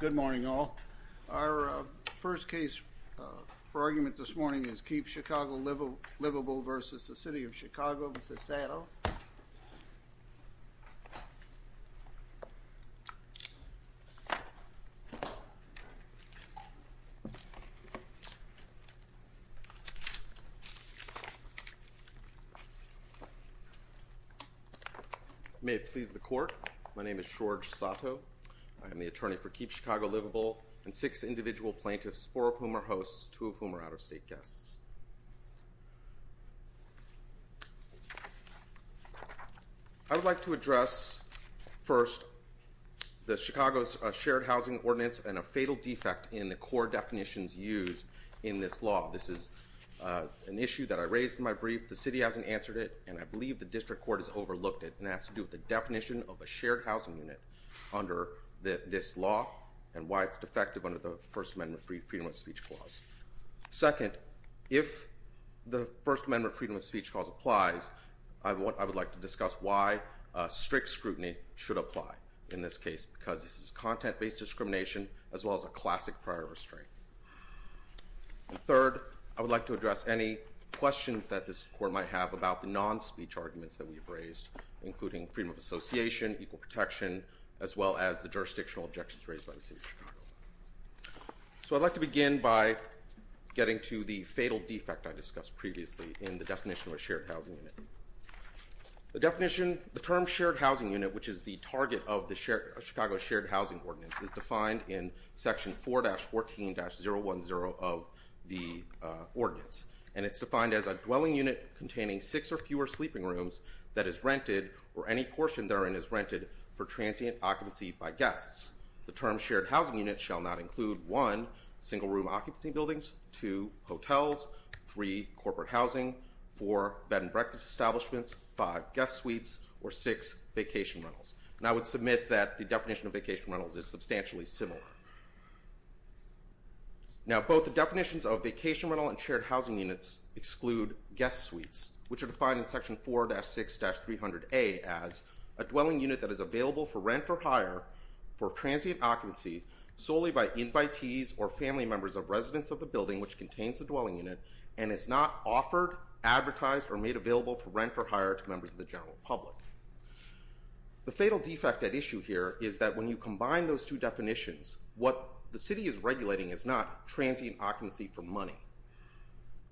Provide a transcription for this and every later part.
Good morning all. Our first case for argument this morning is Keep Chicago Livable v. City of Chicago v. Sato. May it please the court, my name is George Sato. I am the attorney for Keep Chicago Livable and six individual plaintiffs, four of whom are hosts, two of whom are out-of-state guests. I would like to address first the Chicago Shared Housing Ordinance and a fatal defect in the core definitions used in this law. This is an issue that I raised in my brief, the city hasn't answered it, and I believe the district court has overlooked it and has to do with the definition of a shared housing unit under this law and why it's defective under the First Amendment Freedom of Speech Clause. Second, if the First Amendment Freedom of Speech Clause applies, I would like to discuss why strict scrutiny should apply in this case because this is content-based discrimination as well as a classic prior restraint. Third, I would like to address any questions that this court might have about the non-speech arguments that we've raised, including freedom of association, equal protection, as well as the jurisdictional objections raised by the city of Chicago. So I'd like to begin by getting to the fatal defect I discussed previously in the definition of a shared housing unit. The definition, the term shared housing unit, which is the target of the Chicago Shared Housing Ordinance, is defined in section 4-14-010 of the ordinance, and it's defined as a dwelling unit containing six or fewer sleeping rooms that is rented or any portion therein is rented for transient occupancy by guests. The term shared housing unit shall not include one, single room occupancy buildings, two, hotels, three, corporate housing, four, bed and breakfast establishments, five, guest suites, or six, vacation rentals. And I would submit that the definition of vacation rentals is substantially similar. Now, both the definitions of vacation rental and shared housing units exclude guest suites, which are defined in section 4-6-300A as a dwelling unit that is available for rent or hire for transient occupancy solely by invitees or family members of residents of the building which contains the dwelling unit and is not offered, advertised, or made available for rent or hire to members of the general public. The fatal defect at issue here is that when you combine those two definitions, what the city is regulating is not transient occupancy for money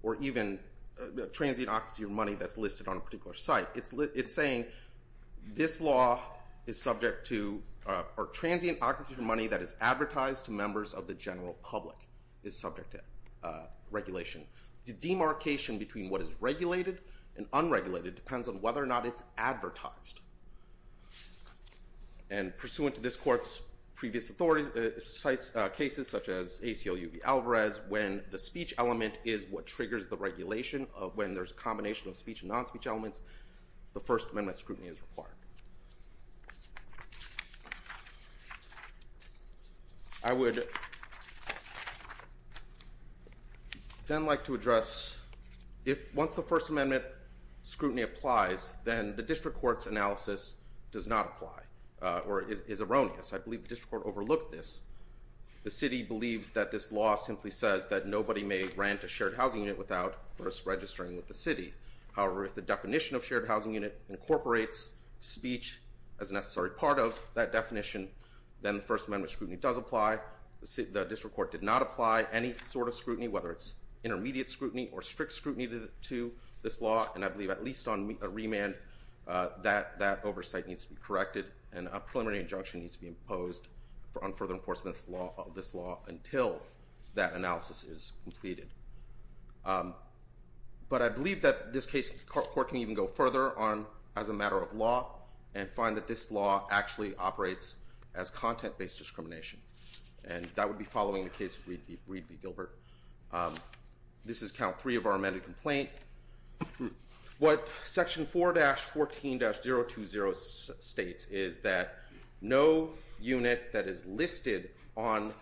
or even transient occupancy of money that's listed on a particular site. It's saying this law is subject to, or transient occupancy for money that is advertised to members of the general public is subject to regulation. The demarcation between what is regulated and unregulated depends on whether or not it's advertised. And pursuant to this court's previous authorities, sites, cases such as ACLU v. Alvarez, when the speech element is what triggers the regulation, when there's a violation of speech and non-speech elements, the First Amendment scrutiny is required. I would then like to address, once the First Amendment scrutiny applies, then the district court's analysis does not apply, or is erroneous. I believe the district court overlooked this. The city believes that this law simply says that nobody may rent a shared housing unit without first registering with the city. However, if the definition of shared housing unit incorporates speech as a necessary part of that definition, then the First Amendment scrutiny does apply. The district court did not apply any sort of scrutiny, whether it's intermediate scrutiny or strict scrutiny to this law. And I believe at least on a remand, that oversight needs to be corrected, and a preliminary injunction needs to be imposed on further enforcement of this law until that analysis is completed. But I believe that this court can even go further on, as a matter of law, and find that this law actually operates as content-based discrimination. And that would be following the case of Reed v. Gilbert. This is count three of our amended complaint. What section 4-14-020 states is that no unit that is listed on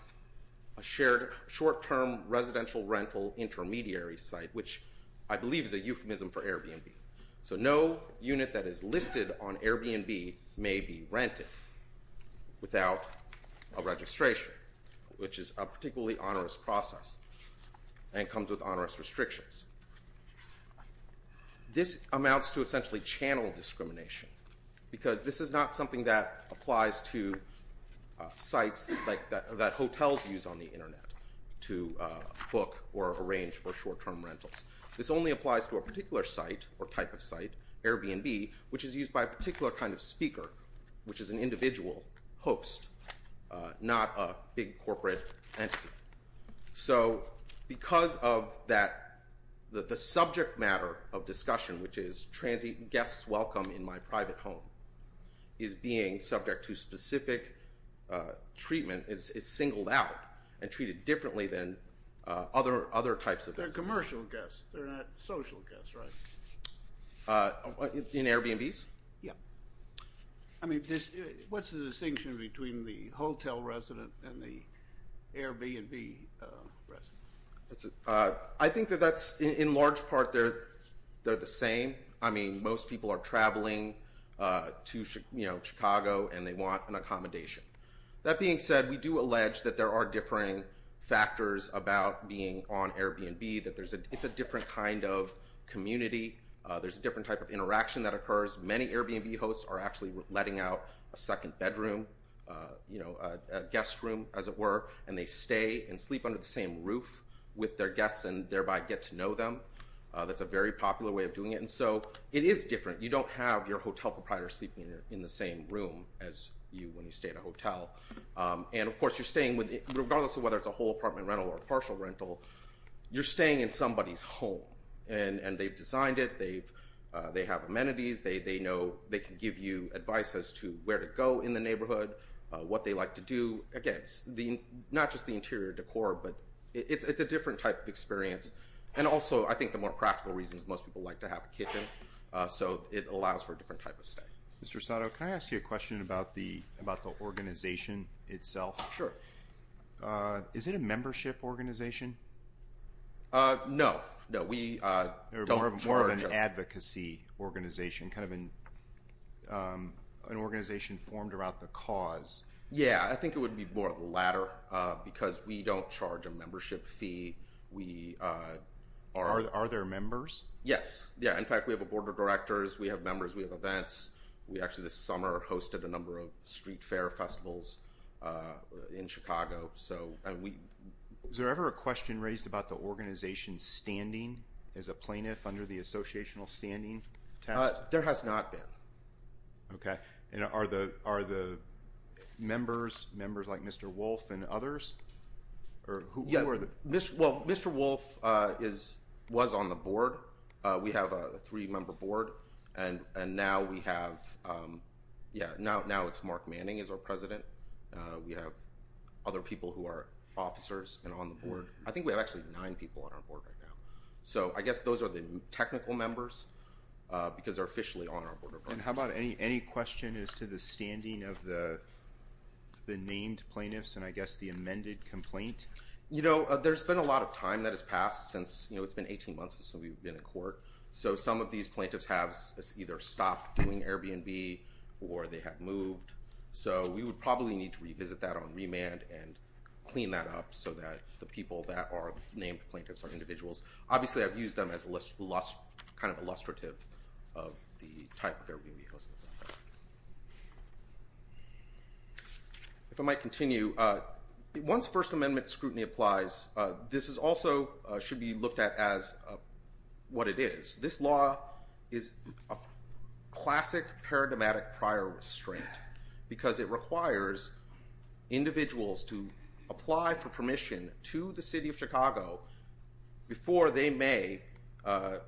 a shared short-term residential rental intermediary site, which I believe is a euphemism for Airbnb. So no unit that is listed on Airbnb may be rented without a registration, which is a particularly onerous process and comes with onerous restrictions. This amounts to essentially channel discrimination, because this is not something that applies to sites that hotels use on the internet to book or arrange for short-term rentals. This only applies to a particular site or type of site, Airbnb, which is used by a particular kind of speaker, which is an individual host, not a big corporate entity. So because of that, the subject matter of discussion, which is guests welcome in my private home, is being subject to specific treatment. It's singled out and treated differently than other types of guests. They're commercial guests. They're not social guests, right? In Airbnbs? Yeah. I mean, what's the distinction between the hotel resident and the Airbnb resident? I think that that's, in large part, they're the same. I mean, most people are traveling to Chicago and they want an accommodation. That being said, we do allege that there are differing factors about being on Airbnb, that it's a different kind of community. There's a different type of interaction that occurs. Many Airbnb hosts are actually letting out a second bedroom, a guest room, as it were, and they stay and sleep under the same roof with their guests and thereby get to know them. That's a very popular way of doing it. And so it is different. You don't have your hotel proprietor sleeping in the same room as you when you stay at a hotel. And of course, regardless of whether it's a whole apartment rental or a partial rental, you're staying in somebody's home. And they've designed it. They have amenities. They can give you advice as to where to go in the neighborhood, what they like to do. Again, not just the interior decor, but it's a different type of experience. Also, I think the more practical reason is most people like to have a kitchen, so it allows for a different type of stay. Mr. Sato, can I ask you a question about the organization itself? Sure. Is it a membership organization? No. No, we don't charge... More of an advocacy organization, kind of an organization formed around the cause. Yeah, I think it would be more of the latter because we don't charge a membership fee. Are there members? Yes. Yeah. In fact, we have a board of directors. We have members. We have events. We actually, this summer, hosted a number of street fair festivals in Chicago. Is there ever a question raised about the organization's standing as a plaintiff under the associational standing test? There has not been. Okay. And are the members, members like Mr. Wolf and others? Or who are the... Well, Mr. Wolf was on the board. We have a three-member board, and now we have... Yeah, now it's Mark Manning is our president. We have other people who are officers and on the board. I think we have actually nine people on our board right now. So I guess those are the technical members because they're officially on our board of directors. How about any question as to the standing of the named plaintiffs and I guess the amended complaint? You know, there's been a lot of time that has passed since... You know, it's been 18 months since we've been in court. So some of these plaintiffs have either stopped doing Airbnb or they have moved. So we would probably need to revisit that on remand and clean that up so that the people that are named plaintiffs are individuals. Obviously, I've used them as illustrative of the type of Airbnb host that's out there. If I might continue, once First Amendment scrutiny applies, this also should be looked at as what it is. This law is a classic paradigmatic prior restraint because it requires individuals to apply for permission to the city of Chicago before they may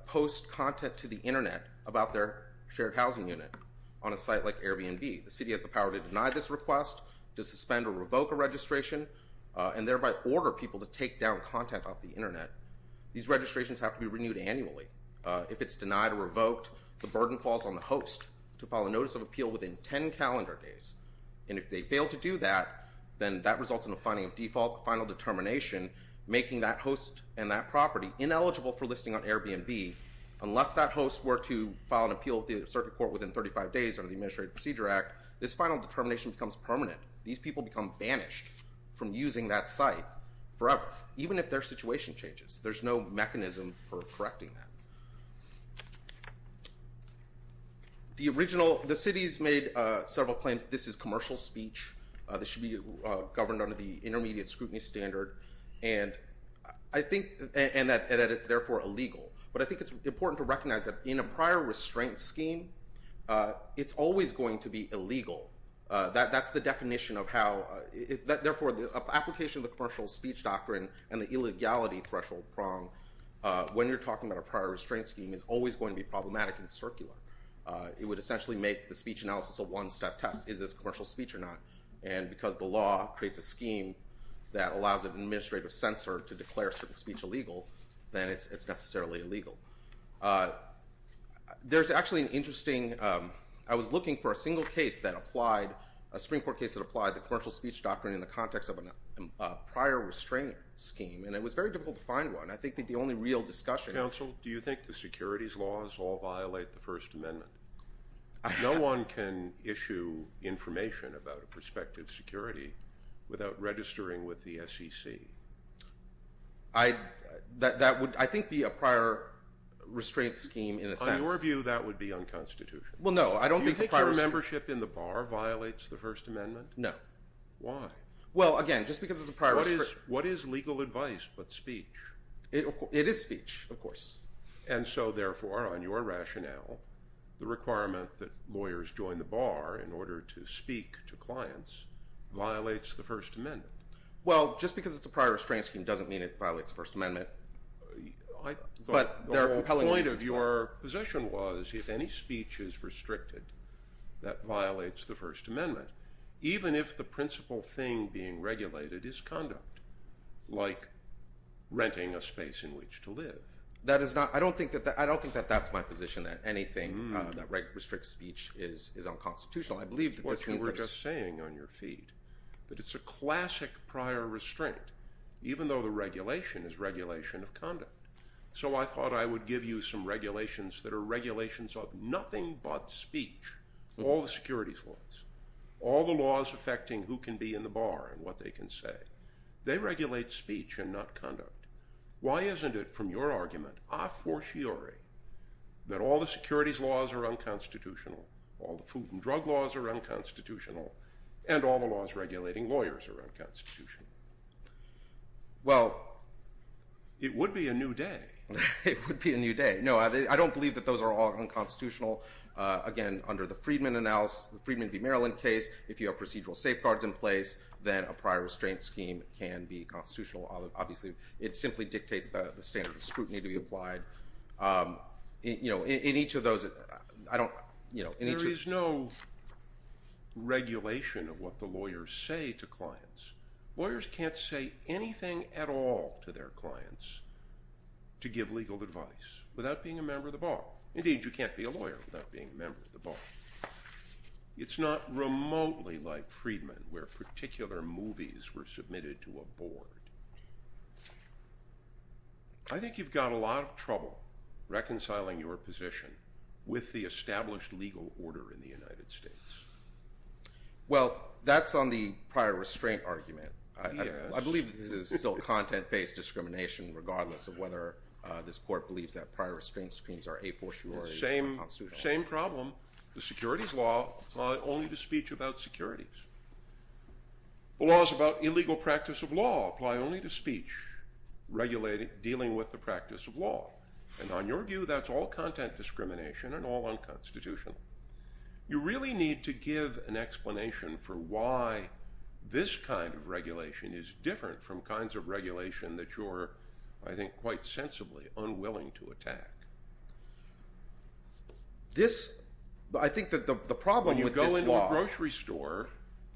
post content to the internet about their shared housing unit on a site like Airbnb. The city has the power to deny this request, to suspend or revoke a registration, and thereby order people to take down content off the internet. These registrations have to be renewed annually. If it's denied or revoked, the burden falls on the host to follow notice of appeal within 10 calendar days. And if they fail to do that, then that results in a finding of default, final determination, making that host and that property ineligible for listing on Airbnb unless that host were to file an appeal with the circuit court within 35 days under the Administrative Procedure Act. This final determination becomes permanent. These people become banished from using that site forever, even if their situation changes. There's no mechanism for correcting that. The city's made several claims that this is commercial speech. This should be governed under the intermediate scrutiny standard and that it's therefore illegal. But I think it's important to recognize that in a prior restraint scheme, it's always going to be illegal. That's the definition of how... Therefore, the application of the commercial speech doctrine and the illegality threshold prong, when you're talking about a prior restraint scheme, is always going to be problematic and circular. It would essentially make the speech analysis a one-step test. Is this commercial speech or not? And because the law creates a scheme that allows an administrative censor to declare certain speech illegal, then it's necessarily illegal. There's actually an interesting... I was looking for a single case that applied... A Supreme Court case that applied the commercial speech doctrine in the context of a prior restraint scheme, and it was very difficult to find one. I think that the only real discussion... Counsel, do you think the securities laws all violate the First Amendment? No one can issue information about a prospective security without registering with the SEC. I... That would, I think, be a prior restraint scheme in a sense. On your view, that would be unconstitutional. Well, no, I don't think the prior... Do you think your membership in the bar violates the First Amendment? No. Why? Well, again, just because it's a prior... What is legal advice but speech? It is speech, of course. And so, therefore, on your rationale, the requirement that lawyers join the bar in order to speak to clients violates the First Amendment. Well, just because it's a prior restraint scheme doesn't mean it violates the First Amendment. But there are compelling reasons for that. But the whole point of your position was if any speech is restricted, that violates the First Amendment, even if the principal thing being regulated is conduct, like renting a space in which to live. That is not... I don't think that that's my position, that anything that restricts speech is unconstitutional. I believe that this means that... That's what you were just saying on your feed, that it's a classic prior restraint, even though the regulation is regulation of conduct. So I thought I would give you some regulations that are regulations of nothing but speech. All the securities laws, all the laws affecting who can be in the bar and what they can say, they regulate speech and not conduct. Why isn't it, from your argument, a fortiori, that all the securities laws are unconstitutional, all the food and drug laws are unconstitutional, and all the laws regulating lawyers are unconstitutional? Well... It would be a new day. It would be a new day. No, I don't believe that those are all unconstitutional. Again, under the Freedman v. Maryland case, if you have procedural safeguards in place, then a prior restraint scheme can be constitutional. Obviously, it simply dictates the standard of scrutiny to be applied. In each of those... There is no regulation of what the lawyers say to clients. Lawyers can't say anything at all to their clients to give legal advice without being a member of the bar. Indeed, you can't be a lawyer without being a member of the bar. It's not remotely like Freedman, where particular movies were submitted to a board. I think you've got a lot of trouble reconciling your position with the established legal order in the United States. Well, that's on the prior restraint argument. I believe that this is still content-based discrimination, regardless of whether this court believes that prior restraint schemes are a fortiori or unconstitutional. Same problem. The securities law apply only to speech about securities. The laws about illegal practice of law apply only to speech dealing with the practice of law. And on your view, that's all content discrimination and all unconstitutional. You really need to give an explanation for why this kind of regulation is different from kinds of regulation that you're, I think, quite sensibly unwilling to attack. I think that the problem with this law... When you go into a grocery store,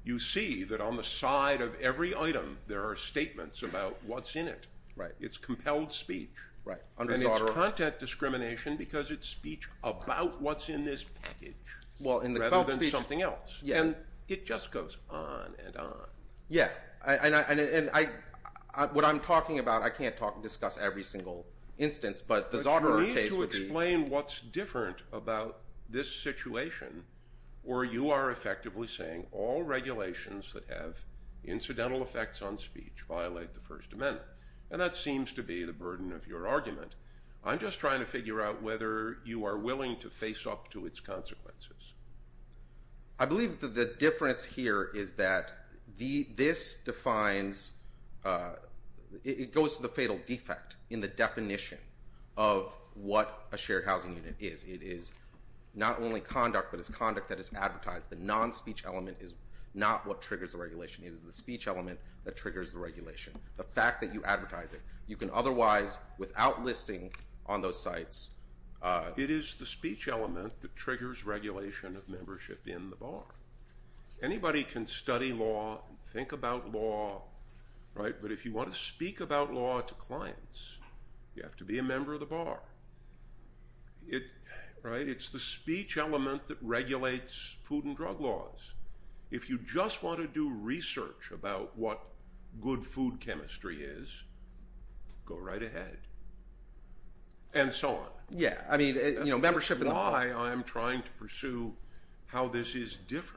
you see that on the side of every item, there are statements about what's in it. Right. It's compelled speech. And it's content discrimination because it's speech about what's in this package, rather than something else. And it just goes on and on. Yeah. What I'm talking about, I can't discuss every single instance, but the Zauterer case would be... But you need to explain what's different about this situation where you are effectively saying all regulations that have incidental effects on speech violate the First Amendment. And that seems to be the burden of your argument. I'm just trying to figure out whether you are willing to face up to its consequences. I believe that the difference here is that this defines... It goes to the fatal defect in the definition of what a shared housing unit is. It is not only conduct, but it's conduct that is advertised. The non-speech element is not what triggers the regulation. It is the speech element that triggers the regulation. The fact that you advertise it. You can otherwise, without listing on those sites... It is the speech element that triggers regulation of membership in the bar. Anybody can study law and think about law, right? But if you want to speak about law to clients, you have to be a member of the bar. It's the speech element that regulates food and drug laws. If you just want to do research about what good food chemistry is, go right ahead. And so on. That's why I'm trying to pursue how this is different.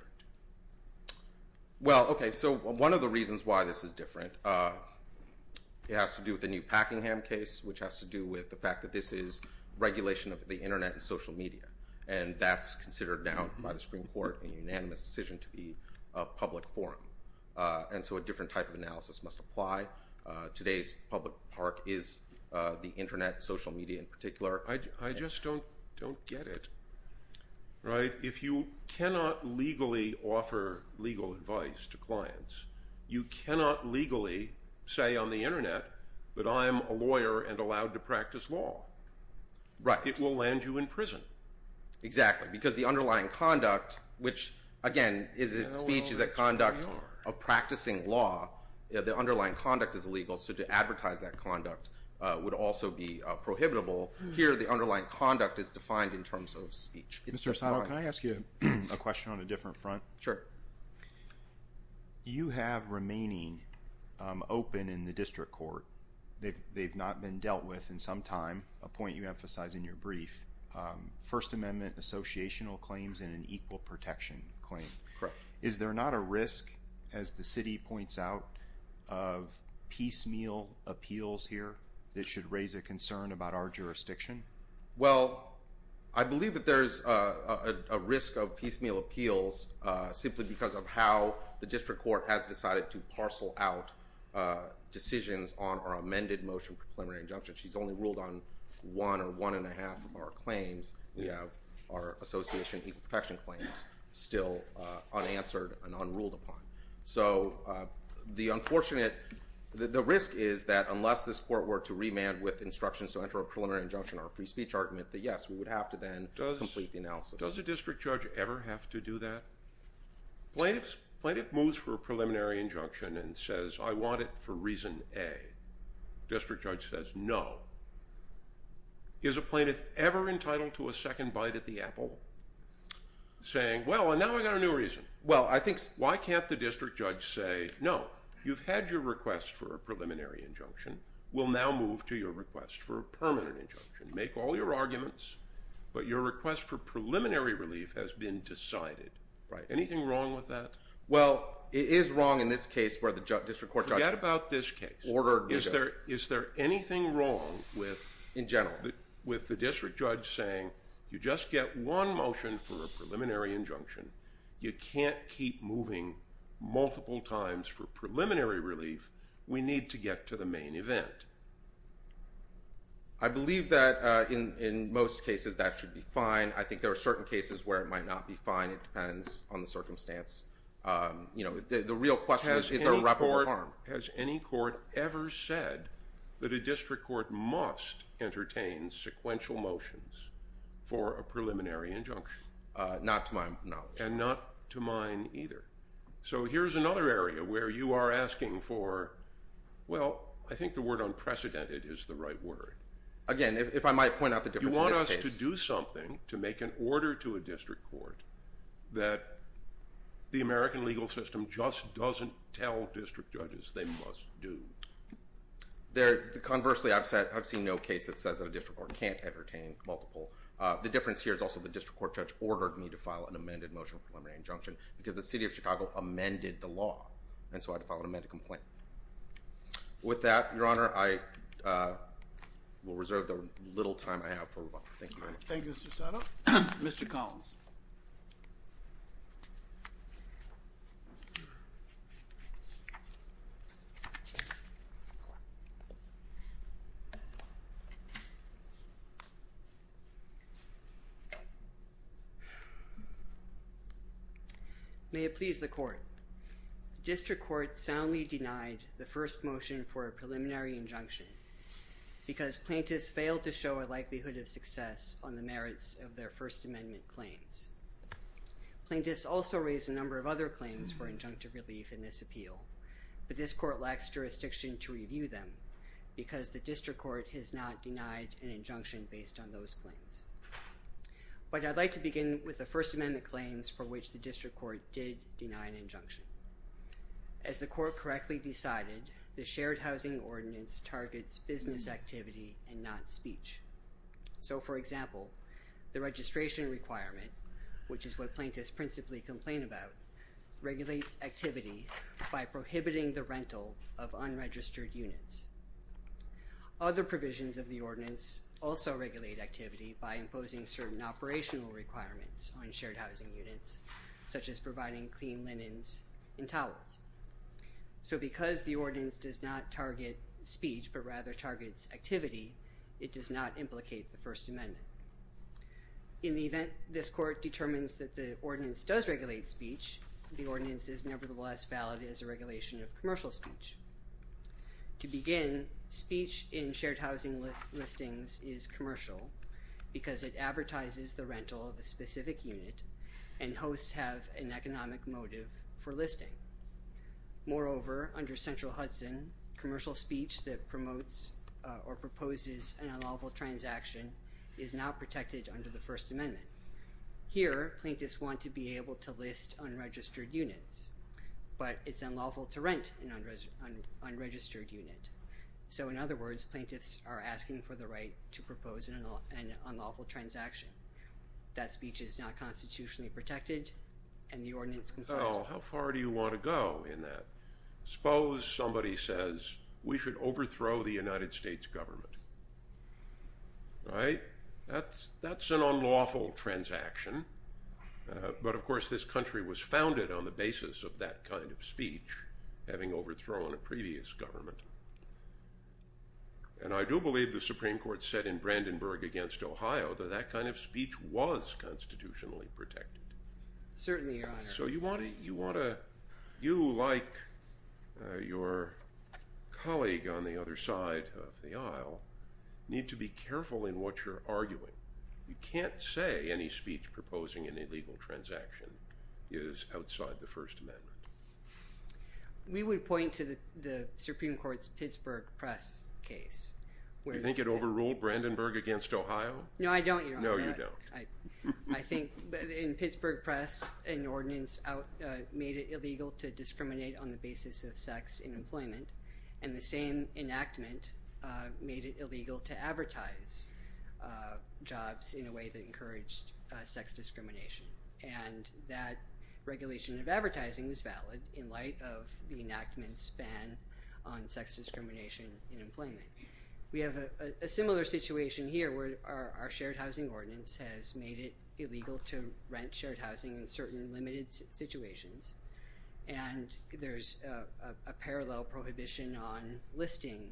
Well, okay. So one of the reasons why this is different, it has to do with the new Packingham case, which has to do with the fact that this is regulation of the internet and social media. And that's considered now by the Supreme Court a unanimous decision to be a public forum. So a different type of analysis must apply. Today's public park is the internet, social media in particular. I just don't get it, right? If you cannot legally offer legal advice to clients, you cannot legally say on the internet, but I'm a lawyer and allowed to practice law. It will land you in prison. Exactly. Because the underlying conduct, which again, is it speech? Is that conduct of practicing law? The underlying conduct is illegal. So to advertise that conduct would also be prohibitable. Here, the underlying conduct is defined in terms of speech. Mr. Sano, can I ask you a question on a different front? Sure. You have remaining open in the district court. They've not been dealt with in some time. A point you emphasize in your brief, First Amendment, associational claims and an equal protection claim. Correct. Is there not a risk, as the city points out, of piecemeal appeals here that should raise a concern about our jurisdiction? Well, I believe that there's a risk of piecemeal appeals simply because of how the district court has decided to parcel out decisions on our amended motion for preliminary injunction. She's only ruled on one or one and a half of our claims. We have our association protection claims still unanswered and unruled upon. So the unfortunate, the risk is that unless this court were to remand with instructions to enter a preliminary injunction or a free speech argument, that yes, we would have to then complete the analysis. Does a district judge ever have to do that? Plaintiff moves for a preliminary injunction and says, I want it for reason A. District judge says no. Is a plaintiff ever entitled to a second bite at the apple saying, well, and now I've got a new reason. Well, I think... Why can't the district judge say, no, you've had your request for a preliminary injunction. We'll now move to your request for a permanent injunction. Make all your arguments, but your request for preliminary relief has been decided. Right, anything wrong with that? Well, it is wrong in this case where the district court judge... Forget about this case. Order. Is there anything wrong with... In general. With the district judge saying, you just get one motion for a preliminary injunction. You can't keep moving multiple times for preliminary relief. We need to get to the main event. I believe that in most cases that should be fine. I think there are certain cases where it might not be fine. It depends on the circumstance. You know, the real question is, is there a reprimand? Has any court ever said that a district court must entertain sequential motions? For a preliminary injunction. Not to my knowledge. And not to mine either. So here's another area where you are asking for, well, I think the word unprecedented is the right word. Again, if I might point out the difference in this case. You want us to do something to make an order to a district court that the American legal system just doesn't tell district judges they must do. Conversely, I've seen no case that says a district court can't entertain multiple. The difference here is also the district court judge ordered me to file an amended motion for a preliminary injunction because the city of Chicago amended the law. And so I had to file an amended complaint. With that, Your Honor, I will reserve the little time I have for rebuttal. Thank you, Your Honor. Thank you, Mr. Sano. Mr. Collins. May it please the court. The district court soundly denied the first motion for a preliminary injunction because plaintiffs failed to show a likelihood of success on the merits of their First Amendment claims. Plaintiffs also raised a number of other claims for injunctive relief in this appeal. But this court lacks jurisdiction to review them a preliminary injunction for a preliminary injunction. And I'm not going to make an injunction based on those claims. But I'd like to begin with the First Amendment claims for which the district court did deny an injunction. As the court correctly decided, the shared housing ordinance targets business activity and not speech. So, for example, the registration requirement, which is what plaintiffs principally complain about, regulates activity by prohibiting the rental of unregistered units. Other provisions of the ordinance also regulate activity by imposing certain operational requirements on shared housing units, such as providing clean linens and towels. So because the ordinance does not target speech, but rather targets activity, it does not implicate the First Amendment. In the event this court determines that the ordinance does regulate speech, the ordinance is nevertheless valid as a regulation of commercial speech. To begin, speech in shared housing listings is commercial because it advertises the rental of a specific unit and hosts have an economic motive for listing. Moreover, under Central Hudson, commercial speech that promotes or proposes an unlawful transaction is now protected under the First Amendment. But it's unlawful to rent an unregistered unit. So, in other words, plaintiffs are asking for the right to propose an unlawful transaction. That speech is not constitutionally protected, and the ordinance complies with that. Well, how far do you want to go in that? Suppose somebody says, we should overthrow the United States government. Right? That's an unlawful transaction. But, of course, this country was founded on the basis of that kind of speech, having overthrown a previous government. And I do believe the Supreme Court said in Brandenburg against Ohio that that kind of speech was constitutionally protected. Certainly, Your Honor. So you want to, you like your colleague on the other side of the aisle, need to be careful in what you're arguing. You can't say any speech proposing an illegal transaction is outside the First Amendment. We would point to the Supreme Court's Pittsburgh press case. You think it overruled Brandenburg against Ohio? No, I don't, Your Honor. No, you don't. I think in Pittsburgh press, an ordinance made it illegal to discriminate on the basis of sex in employment. And the same enactment made it illegal to advertise jobs in a way that encouraged sex discrimination. And that regulation of advertising is valid in light of the enactment's ban on sex discrimination in employment. We have a similar situation here, where our shared housing ordinance has made it illegal to rent shared housing in certain limited situations. And there's a parallel prohibition on listing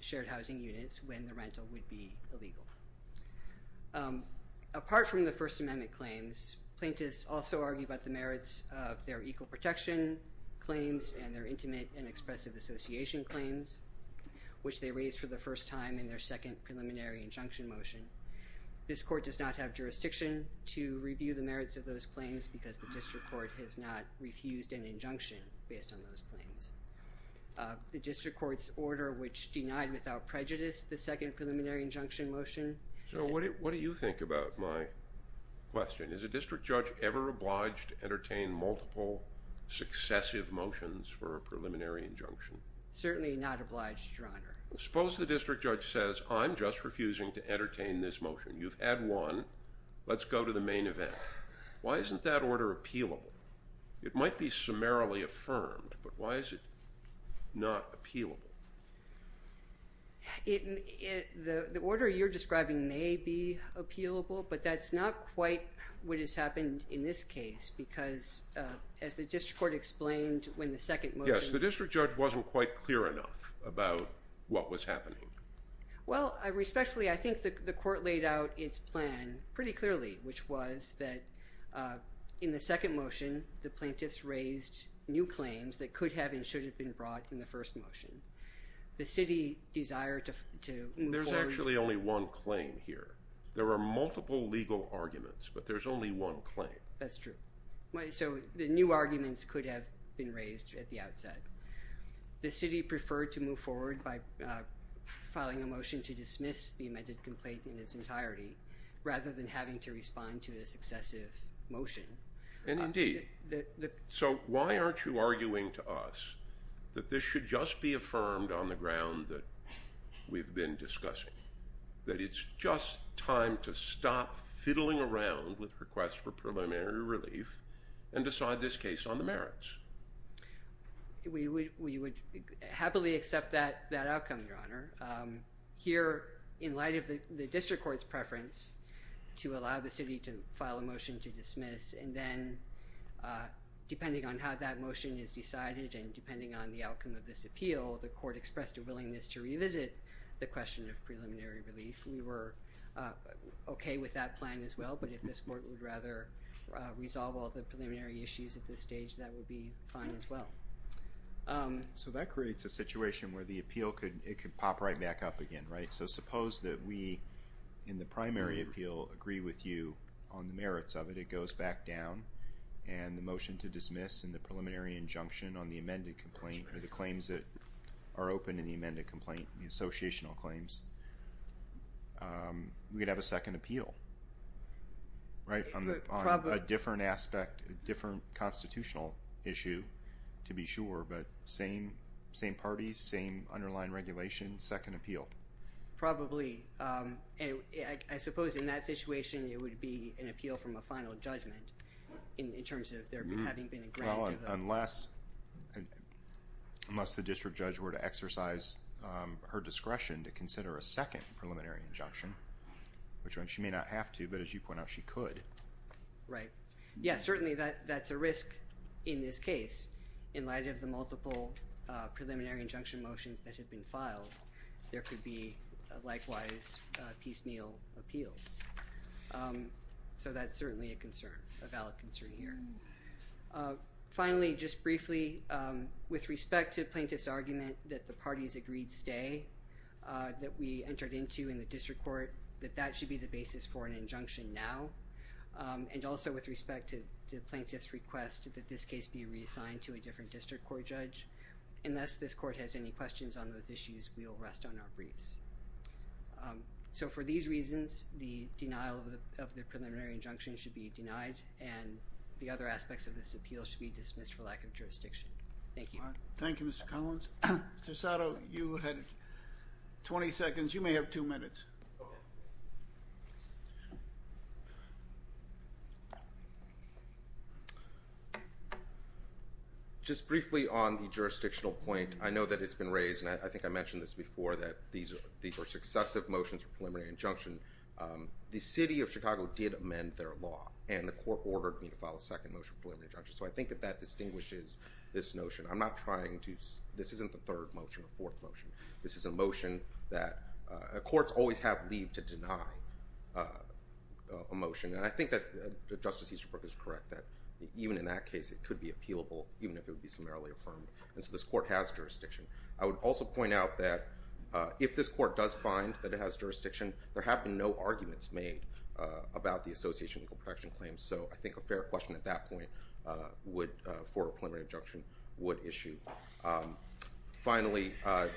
shared housing units when the rental would be illegal. Apart from the First Amendment claims, plaintiffs also argue about the merits of their equal protection claims and their intimate and expressive association claims, which they raised for the first time in their second preliminary injunction motion. This court does not have jurisdiction to review the merits of those claims because the district court has not refused an injunction based on those claims. The district court's order which denied without prejudice the second preliminary injunction motion... So what do you think about my question? Is a district judge ever obliged to entertain multiple successive motions for a preliminary injunction? Certainly not obliged, Your Honor. Suppose the district judge says, I'm just refusing to entertain this motion. You've had one, let's go to the main event. Why isn't that order appealable? It might be summarily affirmed, but why is it not appealable? The order you're describing may be appealable, but that's not quite what has happened in this case because as the district court explained when the second motion... Yes, the district judge wasn't quite clear enough about what was happening. Well, respectfully, I think the court laid out its plan pretty clearly, which was that in the second motion, the plaintiffs raised new claims that could have and should have been brought in the first motion. The city desired to move forward... There's actually only one claim here. There are multiple legal arguments, but there's only one claim. So the new arguments could have been raised at the outset. The city preferred to move forward by filing a motion to dismiss the amended complaint in its entirety rather than having to respond to this excessive motion. So why aren't you arguing to us that this should just be affirmed on the ground that we've been discussing, that it's just time to stop fiddling around with requests for preliminary relief and decide this case on the merits? We would happily accept that outcome, Your Honor. Here, in light of the district court's preference to allow the city to file a motion to dismiss, and then depending on how that motion is decided and depending on the outcome of this appeal, the court expressed a willingness to revisit the question of preliminary relief. We were okay with that plan as well, but if this court would rather resolve all the preliminary issues at this stage, that would be fine as well. So that creates a situation where the appeal could, it could pop right back up again, right? So suppose that we, in the primary appeal, agree with you on the merits of it. It goes back down and the motion to dismiss and the preliminary injunction on the amended complaint or the claims that are open in the amended complaint, the associational claims, we'd have a second appeal, right? A different aspect, different constitutional issue, to be sure, but same parties, same underlying regulation, second appeal. Probably. I suppose in that situation, it would be an appeal from a final judgment in terms of there having been a grant to the... Unless the district judge were to exercise her discretion to consider a second preliminary injunction, which she may not have to, but as you point out, she could. Right. Yeah, certainly that's a risk in this case. In light of the multiple preliminary injunction motions that had been filed, there could be likewise piecemeal appeals. So that's certainly a concern, a valid concern here. Finally, just briefly, with respect to plaintiff's argument that the parties agreed stay, that we entered into in the district court, that that should be the basis for an injunction now. And also with respect to the plaintiff's request that this case be reassigned to a different district court judge. Unless this court has any questions on those issues, we'll rest on our briefs. So for these reasons, the denial of the preliminary injunction should be denied and the other aspects of this appeal should be dismissed for lack of jurisdiction. Thank you. Thank you, Mr. Collins. Mr. Sato, you had 20 seconds. You may have two minutes. Thank you. Just briefly on the jurisdictional point, I know that it's been raised, and I think I mentioned this before, that these are successive motions for preliminary injunction. The city of Chicago did amend their law and the court ordered me to file a second motion for preliminary injunction. So I think that that distinguishes this notion. I'm not trying to, This is a motion that courts always have leave to deny a motion. And I think that Justice Easterbrook is correct that even in that case, it could be appealable even if it would be summarily affirmed. And so this court has jurisdiction. I would also point out that if this court does find that it has jurisdiction, there have been no arguments made about the Association of Legal Protection Claims. So I think a fair question at that point for a preliminary injunction would issue. Finally, I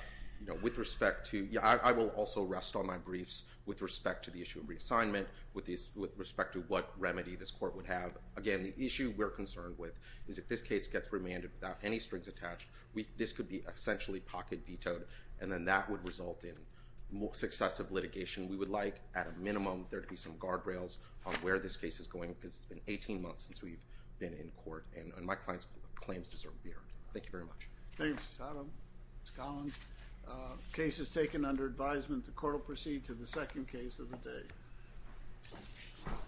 will also rest on my briefs with respect to the issue of reassignment, with respect to what remedy this court would have. Again, the issue we're concerned with is if this case gets remanded without any strings attached, this could be essentially pocket vetoed and then that would result in more successive litigation. We would like at a minimum, there to be some guardrails on where this case is going because it's been 18 months since we've been in court and my client's claims deserve to be heard. Thank you very much. Thank you, Mr. Sodom. Mr. Collins, case is taken under advisement. The court will proceed to the second case of the day. Thank you.